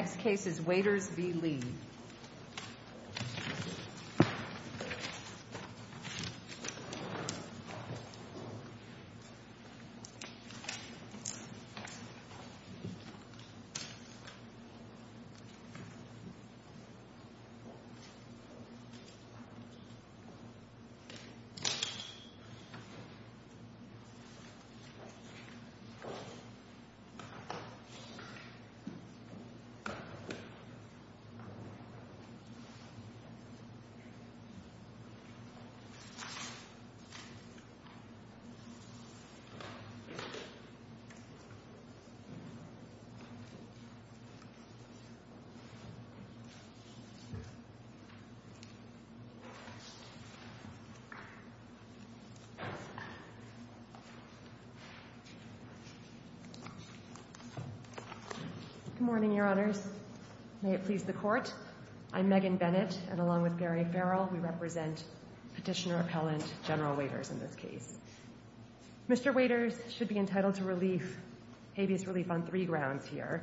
Next case is Waiters v. Lee. good morning your honors. may it please the court I'm Megan Bennett and along with Gary Farrell we represent petitioner appellant General Waiters in this case. Mr. Waiters should be entitled to relief habeas relief on three grounds here.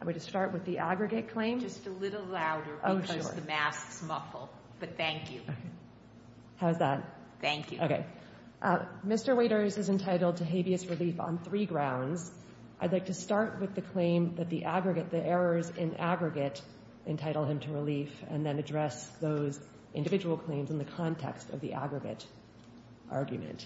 I'm going to start with the aggregate claim. Just a little louder because the masks muffle, but thank you. How's that? Thank you. Okay Mr. Waiters is entitled to habeas relief on three grounds. I'd like to start with the claim that the aggregate the errors in aggregate entitle him to relief and then address those individual claims in the context of the aggregate argument.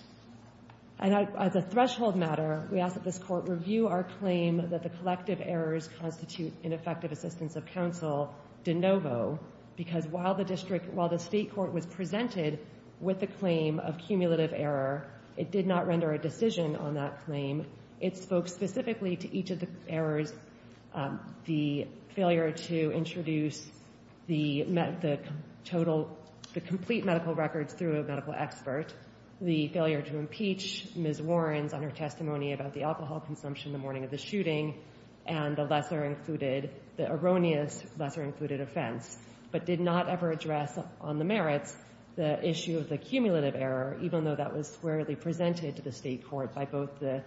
And as a threshold matter we ask that this court review our claim that the collective errors constitute ineffective assistance of counsel de novo because while the district while the state court was presented with the claim of cumulative error it did not render a it spoke specifically to each of the errors the failure to introduce the total the complete medical records through a medical expert the failure to impeach Ms. Warren's on her testimony about the alcohol consumption the morning of the shooting and the lesser included the erroneous lesser included offense but did not ever address on the merits the issue of the cumulative error even though that was squarely presented to the state court by both the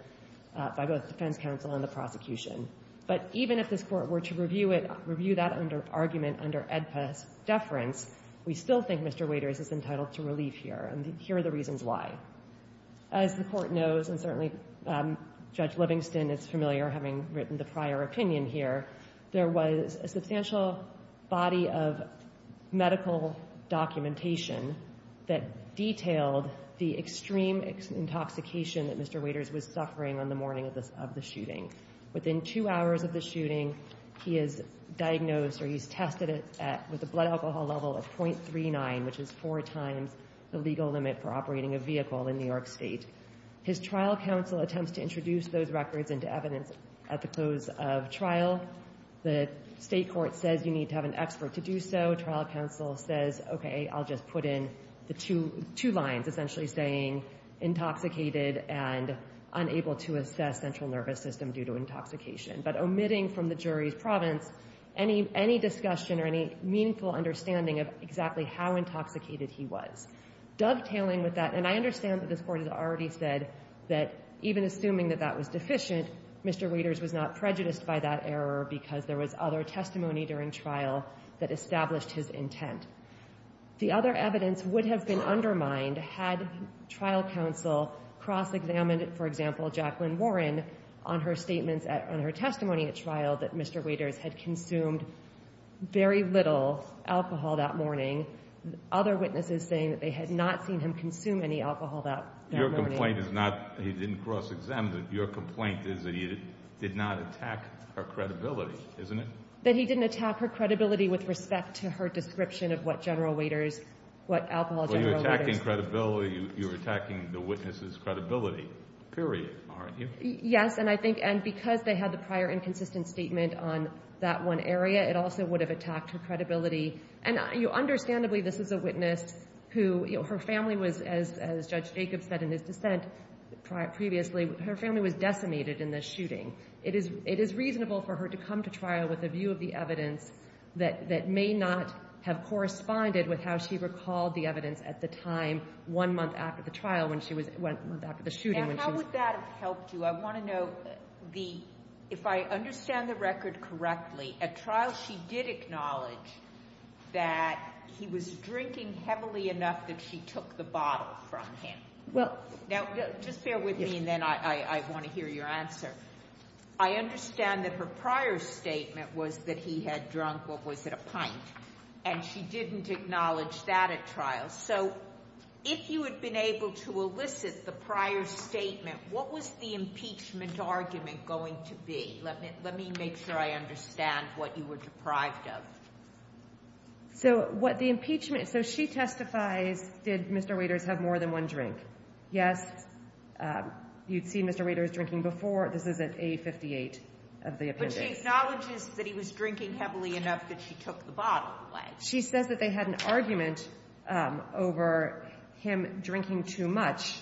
by both defense counsel and the prosecution but even if this court were to review it review that under argument under Edpas deference we still think Mr. Waiters is entitled to relief here and here are the reasons why. As the court knows and certainly Judge Livingston is familiar having written the prior opinion here there was a substantial body of medical documentation that detailed the extreme intoxication that Mr. Waiters was suffering on the morning of this of the shooting. Within two hours of the shooting he is diagnosed or he's tested it at with the blood alcohol level of 0.39 which is four times the legal limit for operating a vehicle in New York State. His trial counsel attempts to the state court says you need to have an expert to do so trial counsel says okay I'll just put in the two two lines essentially saying intoxicated and unable to assess central nervous system due to intoxication but omitting from the jury's province any any discussion or any meaningful understanding of exactly how intoxicated he was. Dovetailing with that and I understand that this court has already said that even assuming that that was deficient Mr. Waiters was not prejudiced by that error because there was other testimony during trial that established his intent. The other evidence would have been undermined had trial counsel cross-examined it for example Jacqueline Warren on her statements at on her testimony at trial that Mr. Waiters had consumed very little alcohol that morning. Other witnesses saying that they had not seen him consume any alcohol that morning. Your complaint is not he didn't cross-examine it. Your complaint is that he did not attack her credibility isn't it? That he didn't attack her credibility with respect to her description of what general Waiters what alcohol general Waiters. You're attacking credibility you're attacking the witness's credibility period aren't you? Yes and I think and because they had the prior inconsistent statement on that one area it also would have attacked her credibility and you understandably this is a witness who you know her family was as Judge Jacobs said in his dissent previously her family was decimated in the shooting. It is it is reasonable for her to come to trial with a view of the evidence that that may not have corresponded with how she recalled the evidence at the time one month after the trial when she was went back to the shooting. And how would that have helped you? I want to know the if I understand the record correctly at trial she did acknowledge that he was drinking heavily enough that she took the bottle from him. Well now just bear with me and I want to hear your answer. I understand that her prior statement was that he had drunk what was it a pint and she didn't acknowledge that at trial. So if you had been able to elicit the prior statement what was the impeachment argument going to be? Let me let me make sure I understand what you were deprived of. So what the impeachment so she testifies did Mr. Waiters have more than one drink? Yes. You'd see Mr. Waiters drinking before this is at A58 of the appendix. But she acknowledges that he was drinking heavily enough that she took the bottle away. She says that they had an argument over him drinking too much.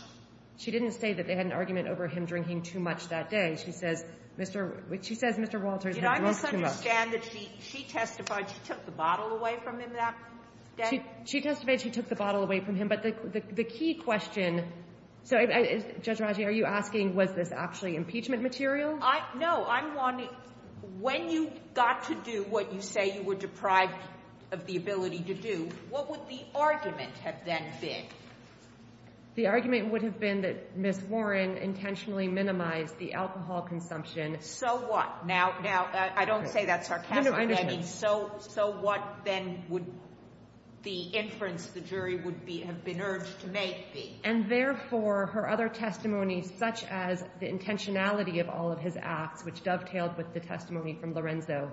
She didn't say that they had an argument over him drinking too much that day. She says Mr. She says Mr. Walters had drunk too much. Did I misunderstand that she testified she took the bottle away from him that day? She testified she took the bottle away from him. But the key question so Judge Raji are you asking was this actually impeachment material? I know I'm wanting when you got to do what you say you were deprived of the ability to do what would the argument have then been? The argument would have been that Miss Warren intentionally minimized the alcohol consumption. So what now now I don't say that sarcastically. So so what then would the inference the jury would be have been urged to make be? And therefore her other testimony such as the intentionality of all of his acts which dovetailed with the testimony from Lorenzo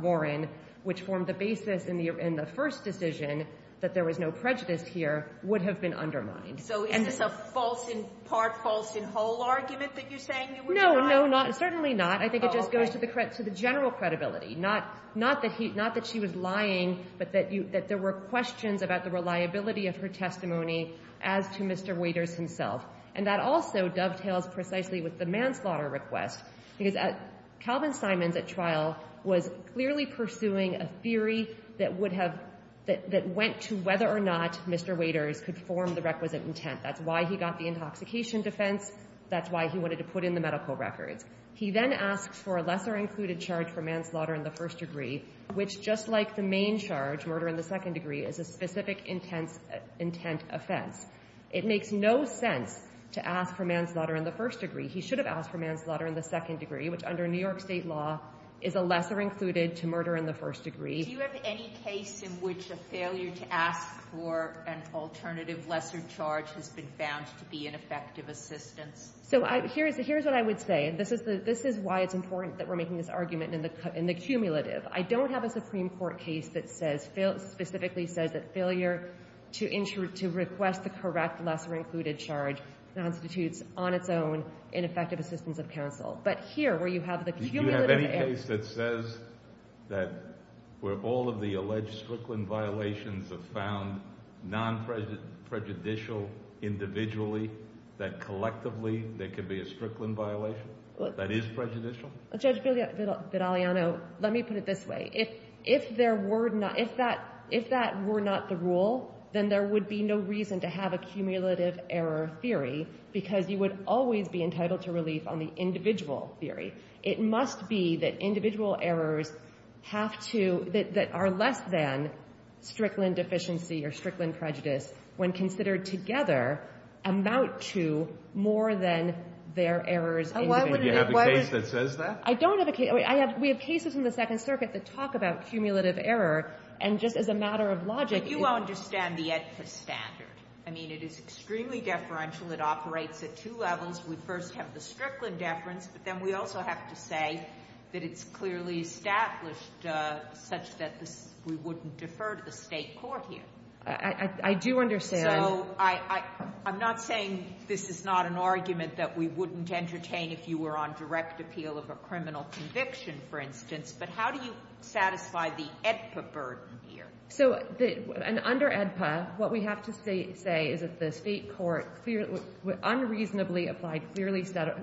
Warren which formed the basis in the in the first decision that there was no prejudice here would have been undermined. So is this a false in part false in whole argument that you're saying? No no not certainly not. I think it just goes to the credit to the general credibility not not that he not that she was lying but that you that there were questions about the reliability of her testimony as to Mr. Waiters himself and that also dovetails precisely with the manslaughter request because at Calvin Simons at trial was clearly pursuing a theory that would have that went to whether or not Mr. Waiters could form the requisite intent. That's why he got the intoxication defense. That's why he wanted to put in the medical records. He then asked for a lesser included charge for manslaughter in the first degree which just like the main charge murder in the second degree is a specific intense intent offense. It makes no sense to ask for manslaughter in the first degree. He should have asked for manslaughter in the second degree which under New York state law is a lesser included to murder in the first degree. Do you have any case in which a failure to ask for an alternative lesser charge has been found to be an effective assistance? So here's what I would say. This is why it's important that we're making this argument in the cumulative. I don't have a Supreme Court case that says specifically says that failure to request the correct lesser included charge constitutes on its own ineffective assistance of counsel. But here where you have the cumulative error. Do you have any case that says that where all of the alleged Strickland violations have found non-prejudicial individually that collectively there could be a Strickland violation that is prejudicial? Judge Vidaliano, let me put it this way. If that were not the rule, then there would be no reason to have a cumulative error theory because you would always be entitled to relief on the individual theory. It must be that individual errors have to, that are less than Strickland deficiency or Strickland prejudice when considered together amount to more than their errors individually. Do you have a case that says that? I don't have a case. We have cases in the Second Circuit that talk about cumulative error and just as a matter of logic. But you understand the EDCA standard. I mean, it is extremely deferential. It operates at two levels. We first have the Strickland deference, but then we also have to say that it's clearly established such that we wouldn't defer to the state court here. I do understand. So I'm not saying this is not an argument that we wouldn't entertain if you were on direct appeal of a criminal conviction, for instance, but how do you satisfy the EDCA burden here? So under EDCA, what we have to say is that the state court unreasonably applied Strickland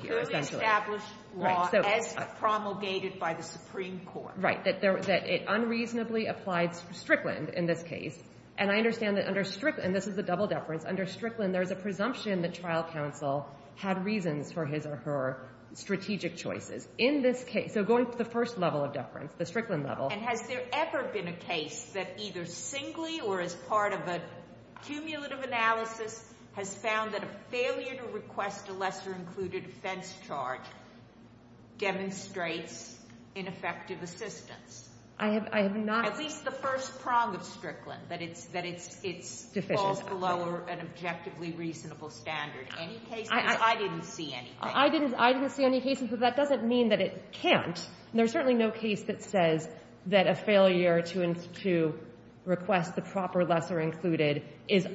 here, essentially. Clearly established law as promulgated by the Supreme Court. Right, that it unreasonably applied Strickland in this case. And I understand that under Strickland, and this is a double deference, under Strickland there's a presumption that trial counsel had reasons for his or her strategic choices. In this case, so going to the first level of deference, the Strickland level. And has there ever been a case that either singly or as part of a cumulative analysis has found that a failure to request a lesser included offense charge demonstrates ineffective assistance? I have not. At least the first prong of Strickland, that it falls below an objectively reasonable standard. Any cases? I didn't see anything. I didn't see any cases, but that doesn't mean that it can't. There's certainly no case that says that a failure to request the proper lesser included is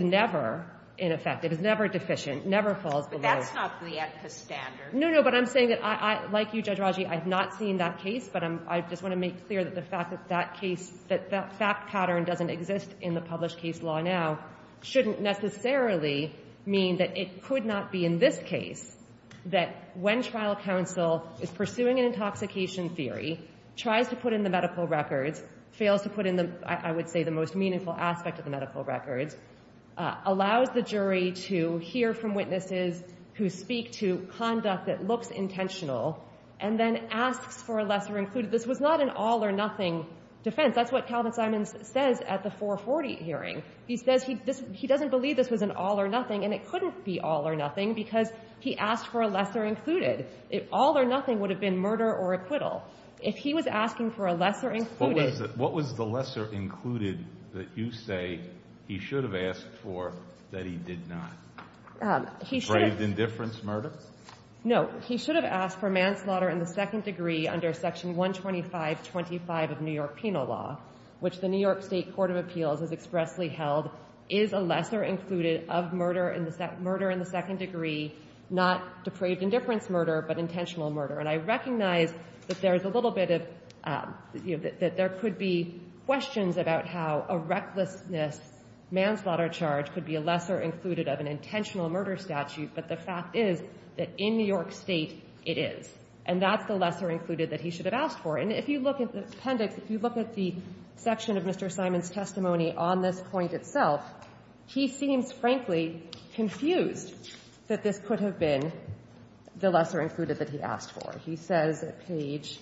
never ineffective, is never deficient, never falls below. But that's not the EDCA standard. No, no, but I'm saying that I, like you, Judge Raji, I've not seen that case, but I just want to make clear that the fact that that case, that that fact pattern doesn't exist in the published case law now shouldn't necessarily mean that it could not be in this case. That when trial counsel is pursuing an intoxication theory, tries to put in the medical records, fails to put in the, I would say, the most meaningful aspect of the medical records, allows the jury to hear from witnesses who speak to conduct that looks intentional, and then asks for a lesser included. This was not an all or nothing defense. That's what Calvin Simons says at the 440 hearing. He says he doesn't believe this was an all or nothing, and it couldn't be all or nothing because he asked for a lesser included. All or nothing would have been murder or acquittal. If he was asking for a lesser included... What was the lesser included that you say he should have asked for that he did not? Braved indifference, murder? No. He should have asked for manslaughter in the second degree under Section 12525 of New York Penal Law, which the New York State Court of Appeals has expressly held is a lesser included of murder in the second degree, not depraved indifference murder, but intentional murder. And I recognize that there is a little bit of... that there could be questions about how a recklessness manslaughter charge could be a lesser included of an intentional murder statute. But the fact is that in New York State, it is. And that's the lesser included that he should have asked for. And if you look at the appendix, if you look at the section of Mr. Simons' testimony on this point itself, he seems, frankly, confused that this could have been the lesser included that he asked for. He says at page...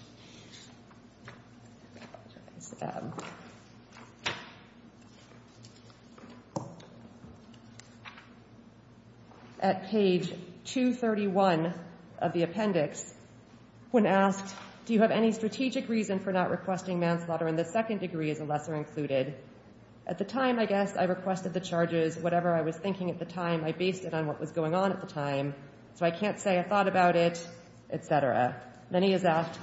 At page 231 of the appendix, when asked, do you have any strategic reason for not requesting manslaughter in the second degree as a lesser included? At the time, I guess, I requested the charges. Whatever I was thinking at the time, I based it on what was going on at the time. So I can't say I thought about it, et cetera. Then he is asked,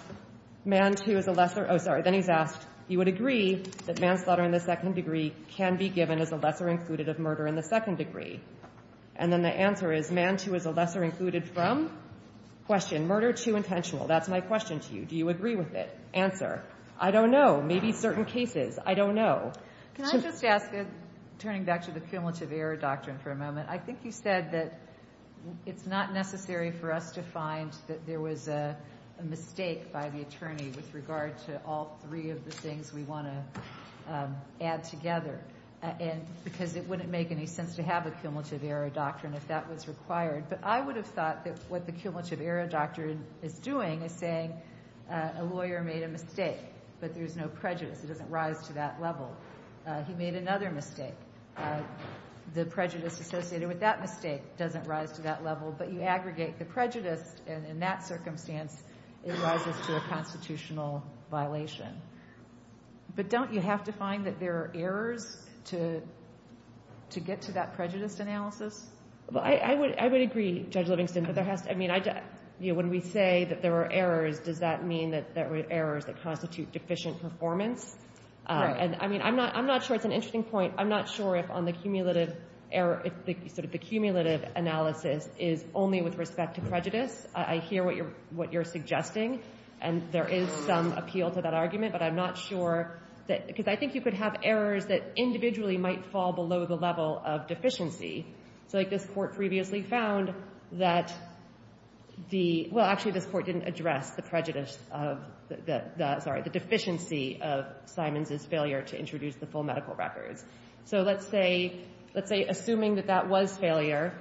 you would agree that manslaughter in the second degree can be given as a lesser included of murder in the second degree. And then the answer is, manslaughter is a lesser included from? Question, murder too intentional. That's my question to you. Do you agree with it? Answer. I don't know. Maybe certain cases. I don't know. I think you said that it's not necessary for us to find that there was a mistake by the attorney with regard to all three of the things we want to add together. Because it wouldn't make any sense to have a cumulative error doctrine if that was required. But I would have thought that what the cumulative error doctrine is doing is saying a lawyer made a mistake, but there is no prejudice. It doesn't rise to that level. He made another mistake. The prejudice associated with that mistake doesn't rise to that level. But you aggregate the prejudice, and in that circumstance, it rises to a constitutional violation. But don't you have to find that there are errors to get to that prejudice analysis? I would agree, Judge Livingston. When we say that there are errors, does that mean that there are errors that constitute deficient performance? I'm not sure. It's an interesting point. I'm not sure if the cumulative analysis is only with respect to prejudice. I hear what you're suggesting, and there is some appeal to that argument. But I'm not sure. Because I think you could have errors that individually might fall below the level of deficiency. This Court previously found that... Well, actually, this Court didn't address the prejudice of... Sorry, the deficiency of Simons's failure to introduce the full medical records. So let's say, assuming that that was failure,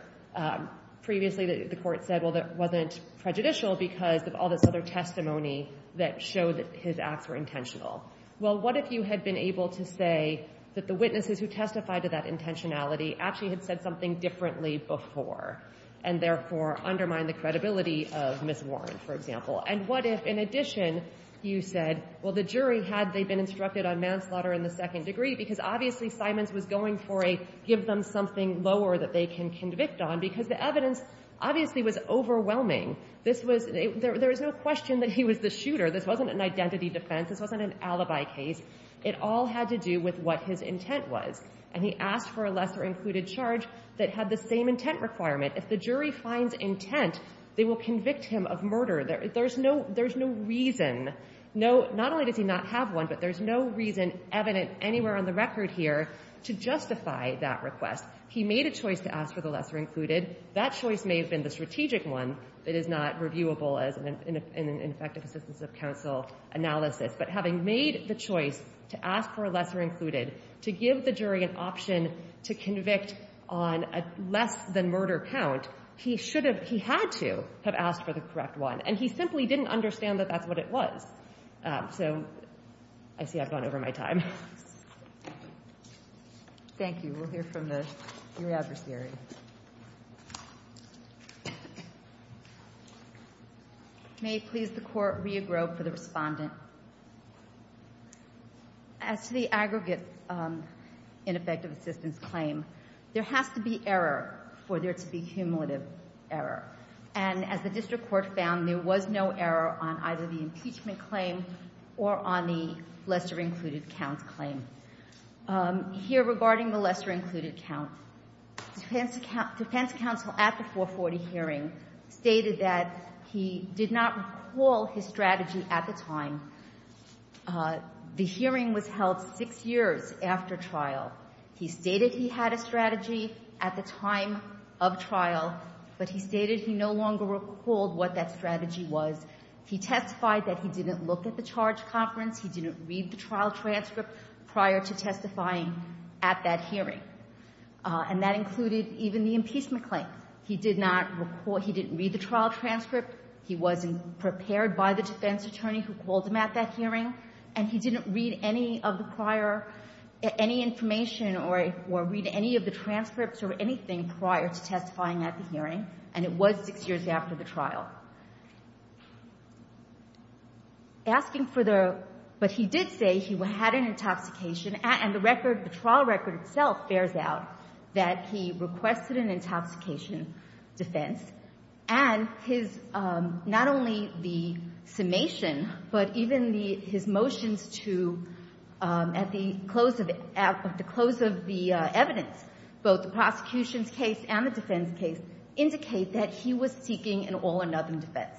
previously the Court said, well, that wasn't prejudicial because of all this other testimony that showed that his acts were intentional. Well, what if you had been able to say that the witnesses who testified to that intentionality actually had said something differently before and therefore undermined the credibility of Ms. Warren, for example? And what if, in addition, you said, well, the jury, had they been instructed on manslaughter in the second degree, because obviously Simons was going for a give them something lower that they can convict on, because the evidence obviously was overwhelming. There was no question that he was the shooter. This wasn't an identity defense. This wasn't an alibi case. It all had to do with what his intent was. And he asked for a lesser-included charge that had the same intent requirement. If the jury finds intent, they will convict him of murder. There's no reason. Not only does he not have one, but there's no reason evident anywhere on the record here to justify that request. He made a choice to ask for the lesser-included. That choice may have been the strategic one. It is not reviewable as an ineffective assistance of counsel analysis. But having made the choice to ask for a lesser-included, to give the jury an option to convict on a less-than-murder count, he had to have asked for the correct one. And he simply didn't understand that that's what it was. So, I see I've gone over my time. Thank you. We'll hear from your adversary. May it please the Court, Rhea Grove for the respondent. As to the aggregate ineffective assistance claim, there has to be error for there to be cumulative error. And as the District Court found, there was no error on either the impeachment claim or on the lesser-included count claim. Here regarding the lesser-included count, defense counsel at the 440 hearing stated that he did not recall his strategy at the time the hearing was held six years after trial. He stated he had a strategy at the time of trial, but he stated he no longer recalled what that strategy was. He testified that he didn't look at the charge conference, he didn't read the trial transcript prior to testifying at that hearing. And that included even the impeachment claim. He did not recall, he didn't read the trial transcript, he wasn't prepared by the defense attorney who called him at that hearing, and he didn't read any of the prior, any information or read any of the transcripts or anything prior to testifying at the hearing. And it was six years after the trial. Asking for the, but he did say he had an intoxication, and the record, the trial record itself bears out that he requested an intoxication defense, and his, not only the summation, but even his motions to, at the close of the evidence, both the prosecution's case and the defense case, indicate that he was seeking an all-or-nothing defense.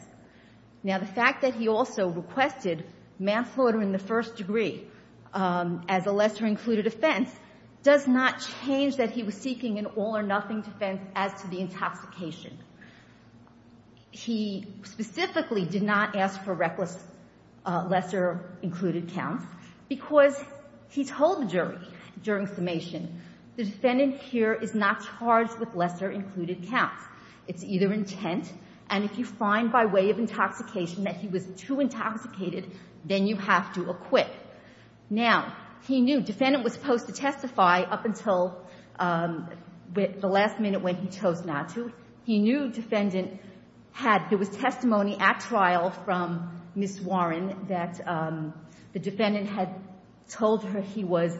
Now the fact that he also requested manslaughter in the first degree, as a lesser-included offense, does not change that he was seeking an all-or-nothing defense as to the intoxication. He specifically did not ask for reckless lesser-included counts, because he told the jury during summation, the defendant here is not charged with lesser-included counts. It's either intent, and if you find by way of intoxication that he was too intoxicated, then you have to acquit. Now, he knew, defendant was supposed to testify up until, the last minute when he chose not to. He knew, defendant had, there was testimony at trial from Ms. Warren that the defendant had told her he was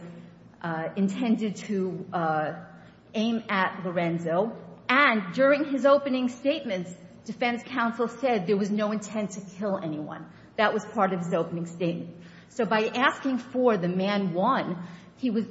intended to aim at Lorenzo, and during his opening statements, defense counsel said there was no intent to kill anyone. That was part of his opening statement. So by asking for the man won, he was,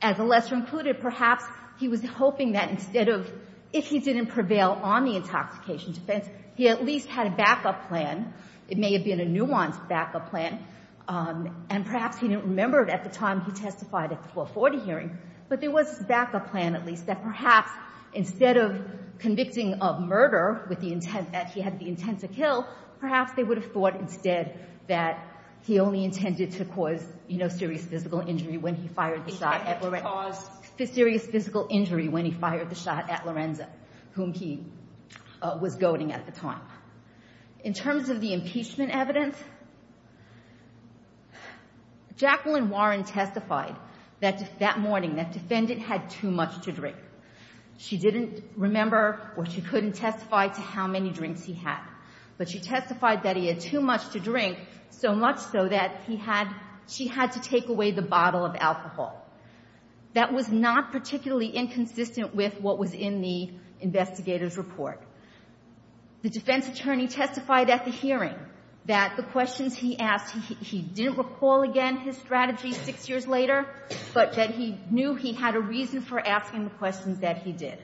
as a lesser-included, perhaps he was hoping that instead of, if he didn't prevail on the intoxication defense, he at least had a backup plan. It may have been a nuanced backup plan, and perhaps he didn't remember it at the time he testified at the 440 hearing, but there was this backup plan, at least, that perhaps instead of convicting of murder, with the intent that he had the intent to kill, perhaps they would have thought instead that he only intended to cause serious physical injury when he fired the shot at Lorenzo. Whom he was goading at the time. In terms of the impeachment evidence, Jacqueline Warren testified that morning that defendant had too much to drink. She didn't remember, or she couldn't testify to how many drinks he had, but she testified that he had too much to drink, so much so that she had to take away the bottle of alcohol. That was not particularly inconsistent with what was in the investigator's report. The defense attorney testified at the hearing that the questions he asked, he didn't recall again his strategy six years later, but that he knew he had a reason for asking the questions that he did.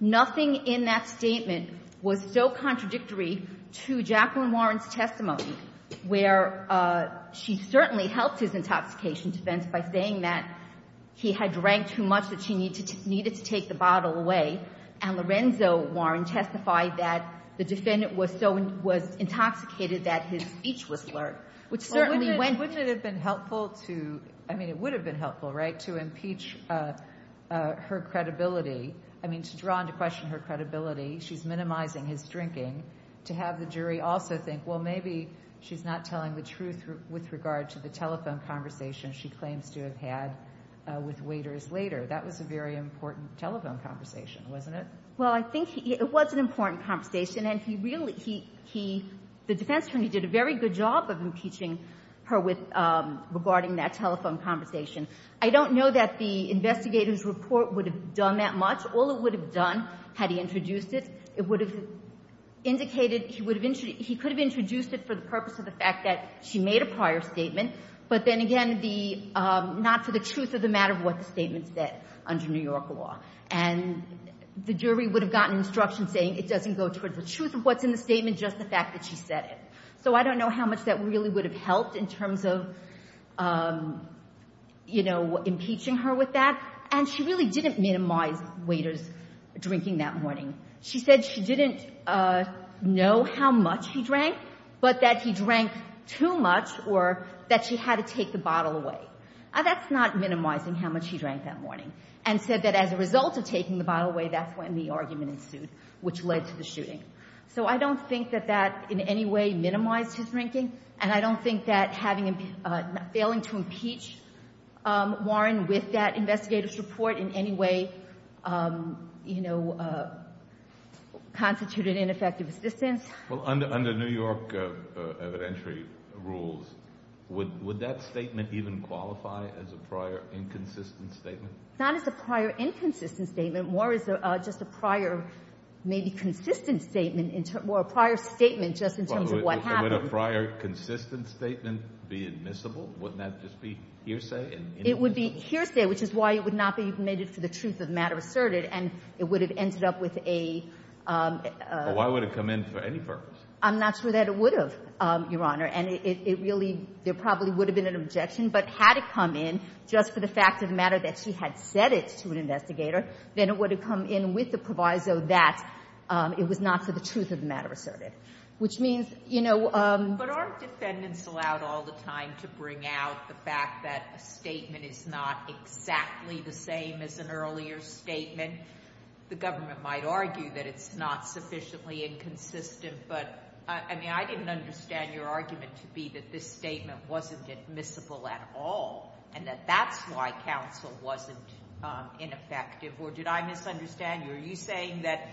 Nothing in that statement was so contradictory to Jacqueline Warren's testimony, where she certainly helped his intoxication defense by saying that he had drank too much that she needed to take the bottle away, and Lorenzo Warren testified that the defendant was intoxicated that his speech was slurred, which certainly went through. Wouldn't it have been helpful to, I mean it would have been helpful, right, to impeach her credibility, I mean to draw into question her credibility, she's minimizing his drinking, to have the jury also think, well maybe she's not telling the truth with regard to the telephone conversation she claims to have had with waiters later. That was a very important telephone conversation, wasn't it? Well I think it was an important conversation, and the defense attorney did a very good job of impeaching her regarding that telephone conversation. I don't know that the investigator's report would have done that much. All it would have done, had he introduced it, it would have indicated, he could have introduced it for the purpose of the fact that she made a prior statement, but then again, not for the truth of the matter of what the statement said under New York law. And the jury would have gotten instruction saying it doesn't go towards the truth of what's in the statement, just the fact that she said it. So I don't know how much that really would have helped in terms of, you know, impeaching her with that. And she really didn't minimize waiters' drinking that morning. She said she didn't know how much he drank, but that he drank too much, or that she had to take the bottle away. That's not minimizing how much he drank that morning. And said that as a result of taking the bottle away, that's when the argument ensued, which led to the shooting. So I don't think that that in any way minimized his drinking, and I don't think that failing to impeach Warren with that investigator's report in any way, you know, constituted ineffective assistance. Well, under New York evidentiary rules, would that statement even qualify as a prior inconsistent statement? Not as a prior inconsistent statement, more as just a prior maybe consistent statement, or a prior statement just in terms of what happened. Would a prior consistent statement be admissible? Wouldn't that just be hearsay? It would be hearsay, which is why it would not be admitted for the truth of the matter asserted, and it would have ended up with a... Well, why would it come in for any purpose? I'm not sure that it would have, Your Honor, and it really, there probably would have been an objection, but had it come in just for the fact of the matter that she had said it to an investigator, then it would have come in with the proviso that it was not for the truth of the matter asserted, which means, you know... But aren't defendants allowed all the time to bring out the fact that a statement is not exactly the same as an earlier statement? The government might argue that it's not sufficiently inconsistent, but, I mean, I didn't understand your argument to be that this statement wasn't admissible at all and that that's why counsel wasn't ineffective. Or did I misunderstand you? Are you saying that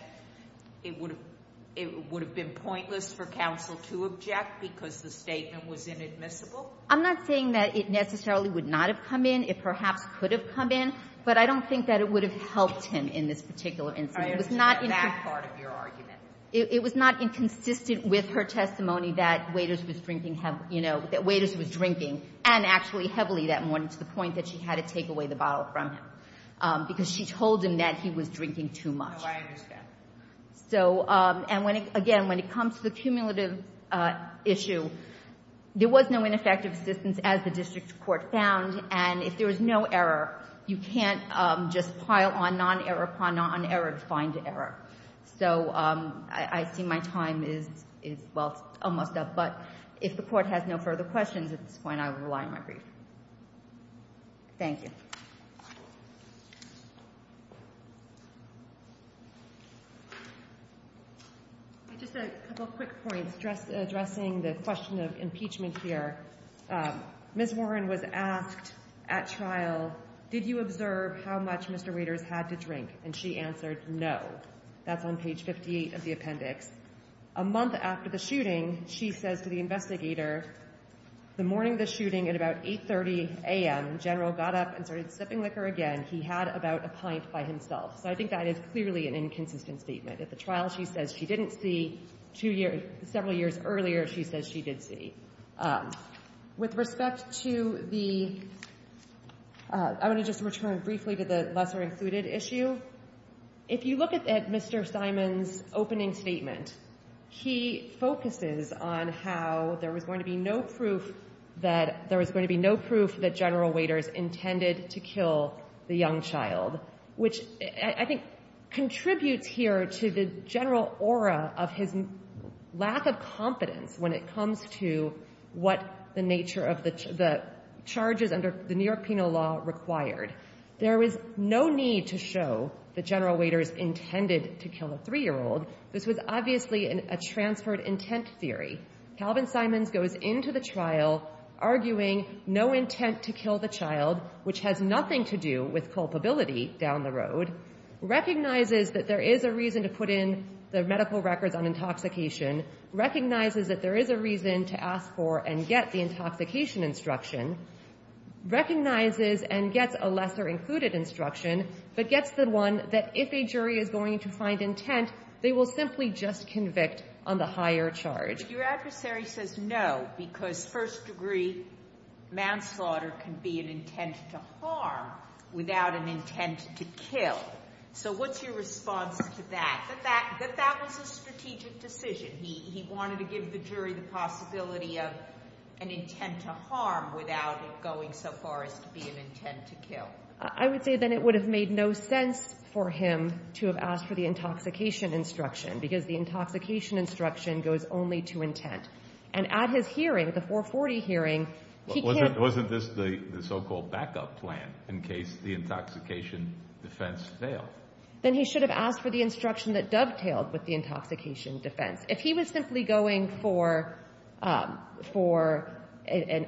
it would have been pointless for counsel to object because the statement was inadmissible? I'm not saying that it necessarily would not have come in. It perhaps could have come in, but I don't think that it would have helped him in this particular incident. I understand that part of your argument. It was not inconsistent with her testimony that Waiters was drinking, you know, that Waiters was drinking, and actually heavily that morning, to the point that she had to take away the bottle from him, because she told him that he was drinking too much. No, I understand. So, and again, when it comes to the cumulative issue, there was no ineffective assistance as the district court found, and if there was no error, you can't just pile on non-error upon non-error to find error. So I see my time is, well, it's almost up, but if the court has no further questions at this point, I will rely on my brief. Thank you. Just a couple quick points addressing the question of impeachment here. Ms. Warren was asked at trial, did you observe how much Mr. Waiters had to drink? And she answered, no. That's on page 58 of the appendix. A month after the shooting, she says to the investigator, the morning of the shooting, at about 8.30 a.m., General got up and started sipping liquor again. He had about a pint by himself. So I think that is clearly an inconsistent statement. At the trial, she says she didn't see. Two years, several years earlier, she says she did see. With respect to the... I want to just return briefly to the lesser-included issue. If you look at Mr. Simon's opening statement, he focuses on how there was going to be no proof that there was going to be no proof that General Waiters intended to kill the young child, which I think contributes here to the general aura of his lack of confidence when it comes to what the nature of the charges under the New York penal law required. There was no need to show that General Waiters intended to kill a 3-year-old. This was obviously a transferred intent theory. Calvin Simons goes into the trial arguing no intent to kill the child, which has nothing to do with culpability down the road, recognizes that there is a reason to put in the medical records on intoxication, recognizes that there is a reason to ask for and get the intoxication instruction, recognizes and gets a lesser-included instruction, but gets the one that if a jury is going to find intent, they will simply just convict on the higher charge. Your adversary says no, because first-degree manslaughter can be an intent to harm without an intent to kill. So what's your response to that? That that was a strategic decision. He wanted to give the jury the possibility of an intent to harm without it going so far as to be an intent to kill. I would say then it would have made no sense for him to have asked for the intoxication instruction, because the intoxication instruction goes only to intent. And at his hearing, the 440 hearing, he can't... Wasn't this the so-called backup plan in case the intoxication defense failed? Then he should have asked for the instruction that dovetailed with the intoxication defense. If he was simply going for, um, for an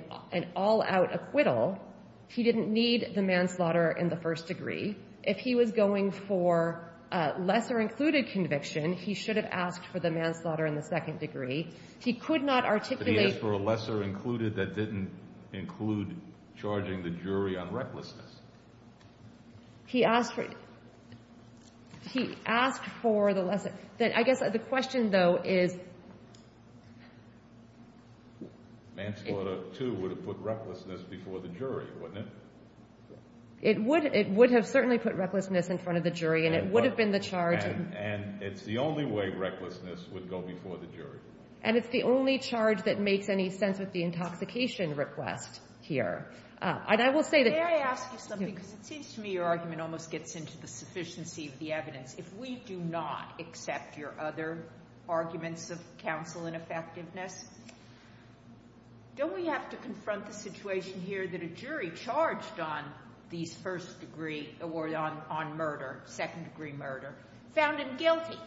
all-out acquittal, he didn't need the manslaughter in the first degree. If he was going for a lesser-included conviction, he should have asked for the manslaughter in the second degree. He could not articulate... But he asked for a lesser-included that didn't include charging the jury on recklessness. He asked for... He asked for the lesser... I guess the question, though, is... Manslaughter, too, would have put recklessness before the jury, wouldn't it? It would have certainly put recklessness in front of the jury, and it would have been the charge... And it's the only way recklessness would go before the jury. And it's the only charge that makes any sense with the intoxication request here. May I ask you something? Because it seems to me your argument almost gets into the sufficiency of the evidence. If we do not accept your other arguments of counsel ineffectiveness, don't we have to confront the situation here that a jury charged on these first-degree... Or on murder, second-degree murder, found him guilty.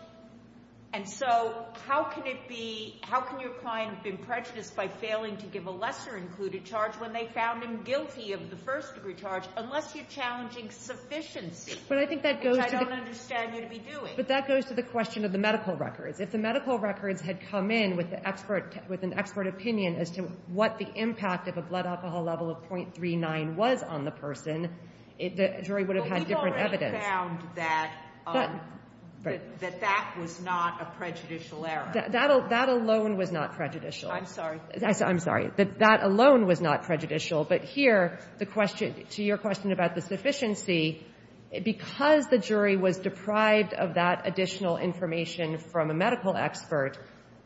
And so how can it be... How can your client have been prejudiced by failing to give a lesser-included charge when they found him guilty of the first-degree charge, unless you're challenging sufficiency, which I don't understand you to be doing? But that goes to the question of the medical records. If the medical records had come in with an expert opinion as to what the impact of a blood alcohol level of .39 was on the person, the jury would have had different evidence. But we've already found that... That that was not a prejudicial error. That alone was not prejudicial. I'm sorry. I'm sorry. That that alone was not prejudicial. But here, the question... To your question about the sufficiency, because the jury was deprived of that additional information from a medical expert,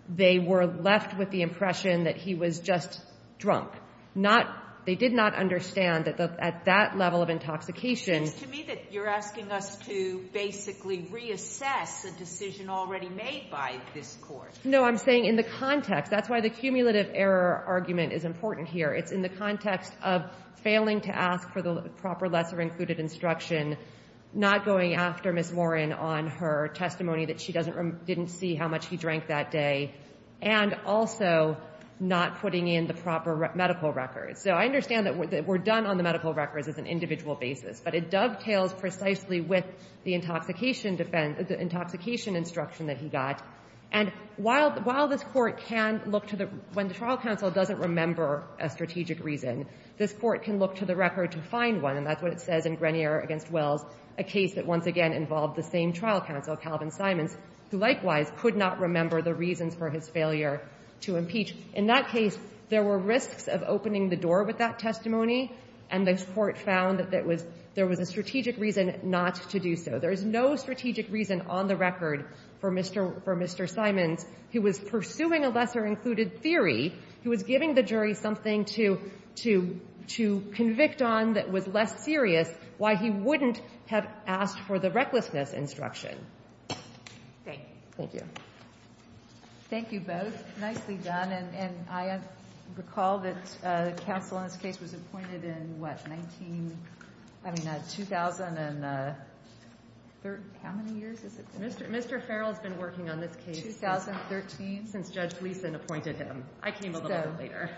they were left with the impression that he was just drunk. Not... They did not understand that at that level of intoxication... It seems to me that you're asking us to basically reassess a decision already made by this court. No, I'm saying in the context. That's why the cumulative error argument is important here. It's in the context of failing to ask for the proper lesser-included instruction, not going after Ms. Warren on her testimony that she didn't see how much he drank that day, and also not putting in the proper medical records. So I understand that we're done on the medical records as an individual basis, but it dovetails precisely with the intoxication instruction that he got. And while this court can look to the... When the trial counsel doesn't remember a strategic reason, this court can look to the record to find one, and that's what it says in Grenier v. Wells, a case that once again involved the same trial counsel, Calvin Simons, who likewise could not remember the reasons for his failure to impeach. In that case, there were risks of opening the door with that testimony, and this court found that there was a strategic reason not to do so. There is no strategic reason on the record for Mr. Simons, who was pursuing a lesser-included theory. He was giving the jury something to convict on that was less serious, why he wouldn't have asked for the recklessness instruction. Thank you. Thank you both. Nicely done. And I recall that counsel in this case was appointed in, what, 2000 and... How many years has it been? Mr. Farrell has been working on this case since 2013, since Judge Gleason appointed him. I came a little later.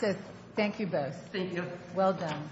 So, thank you both. Thank you. Well done.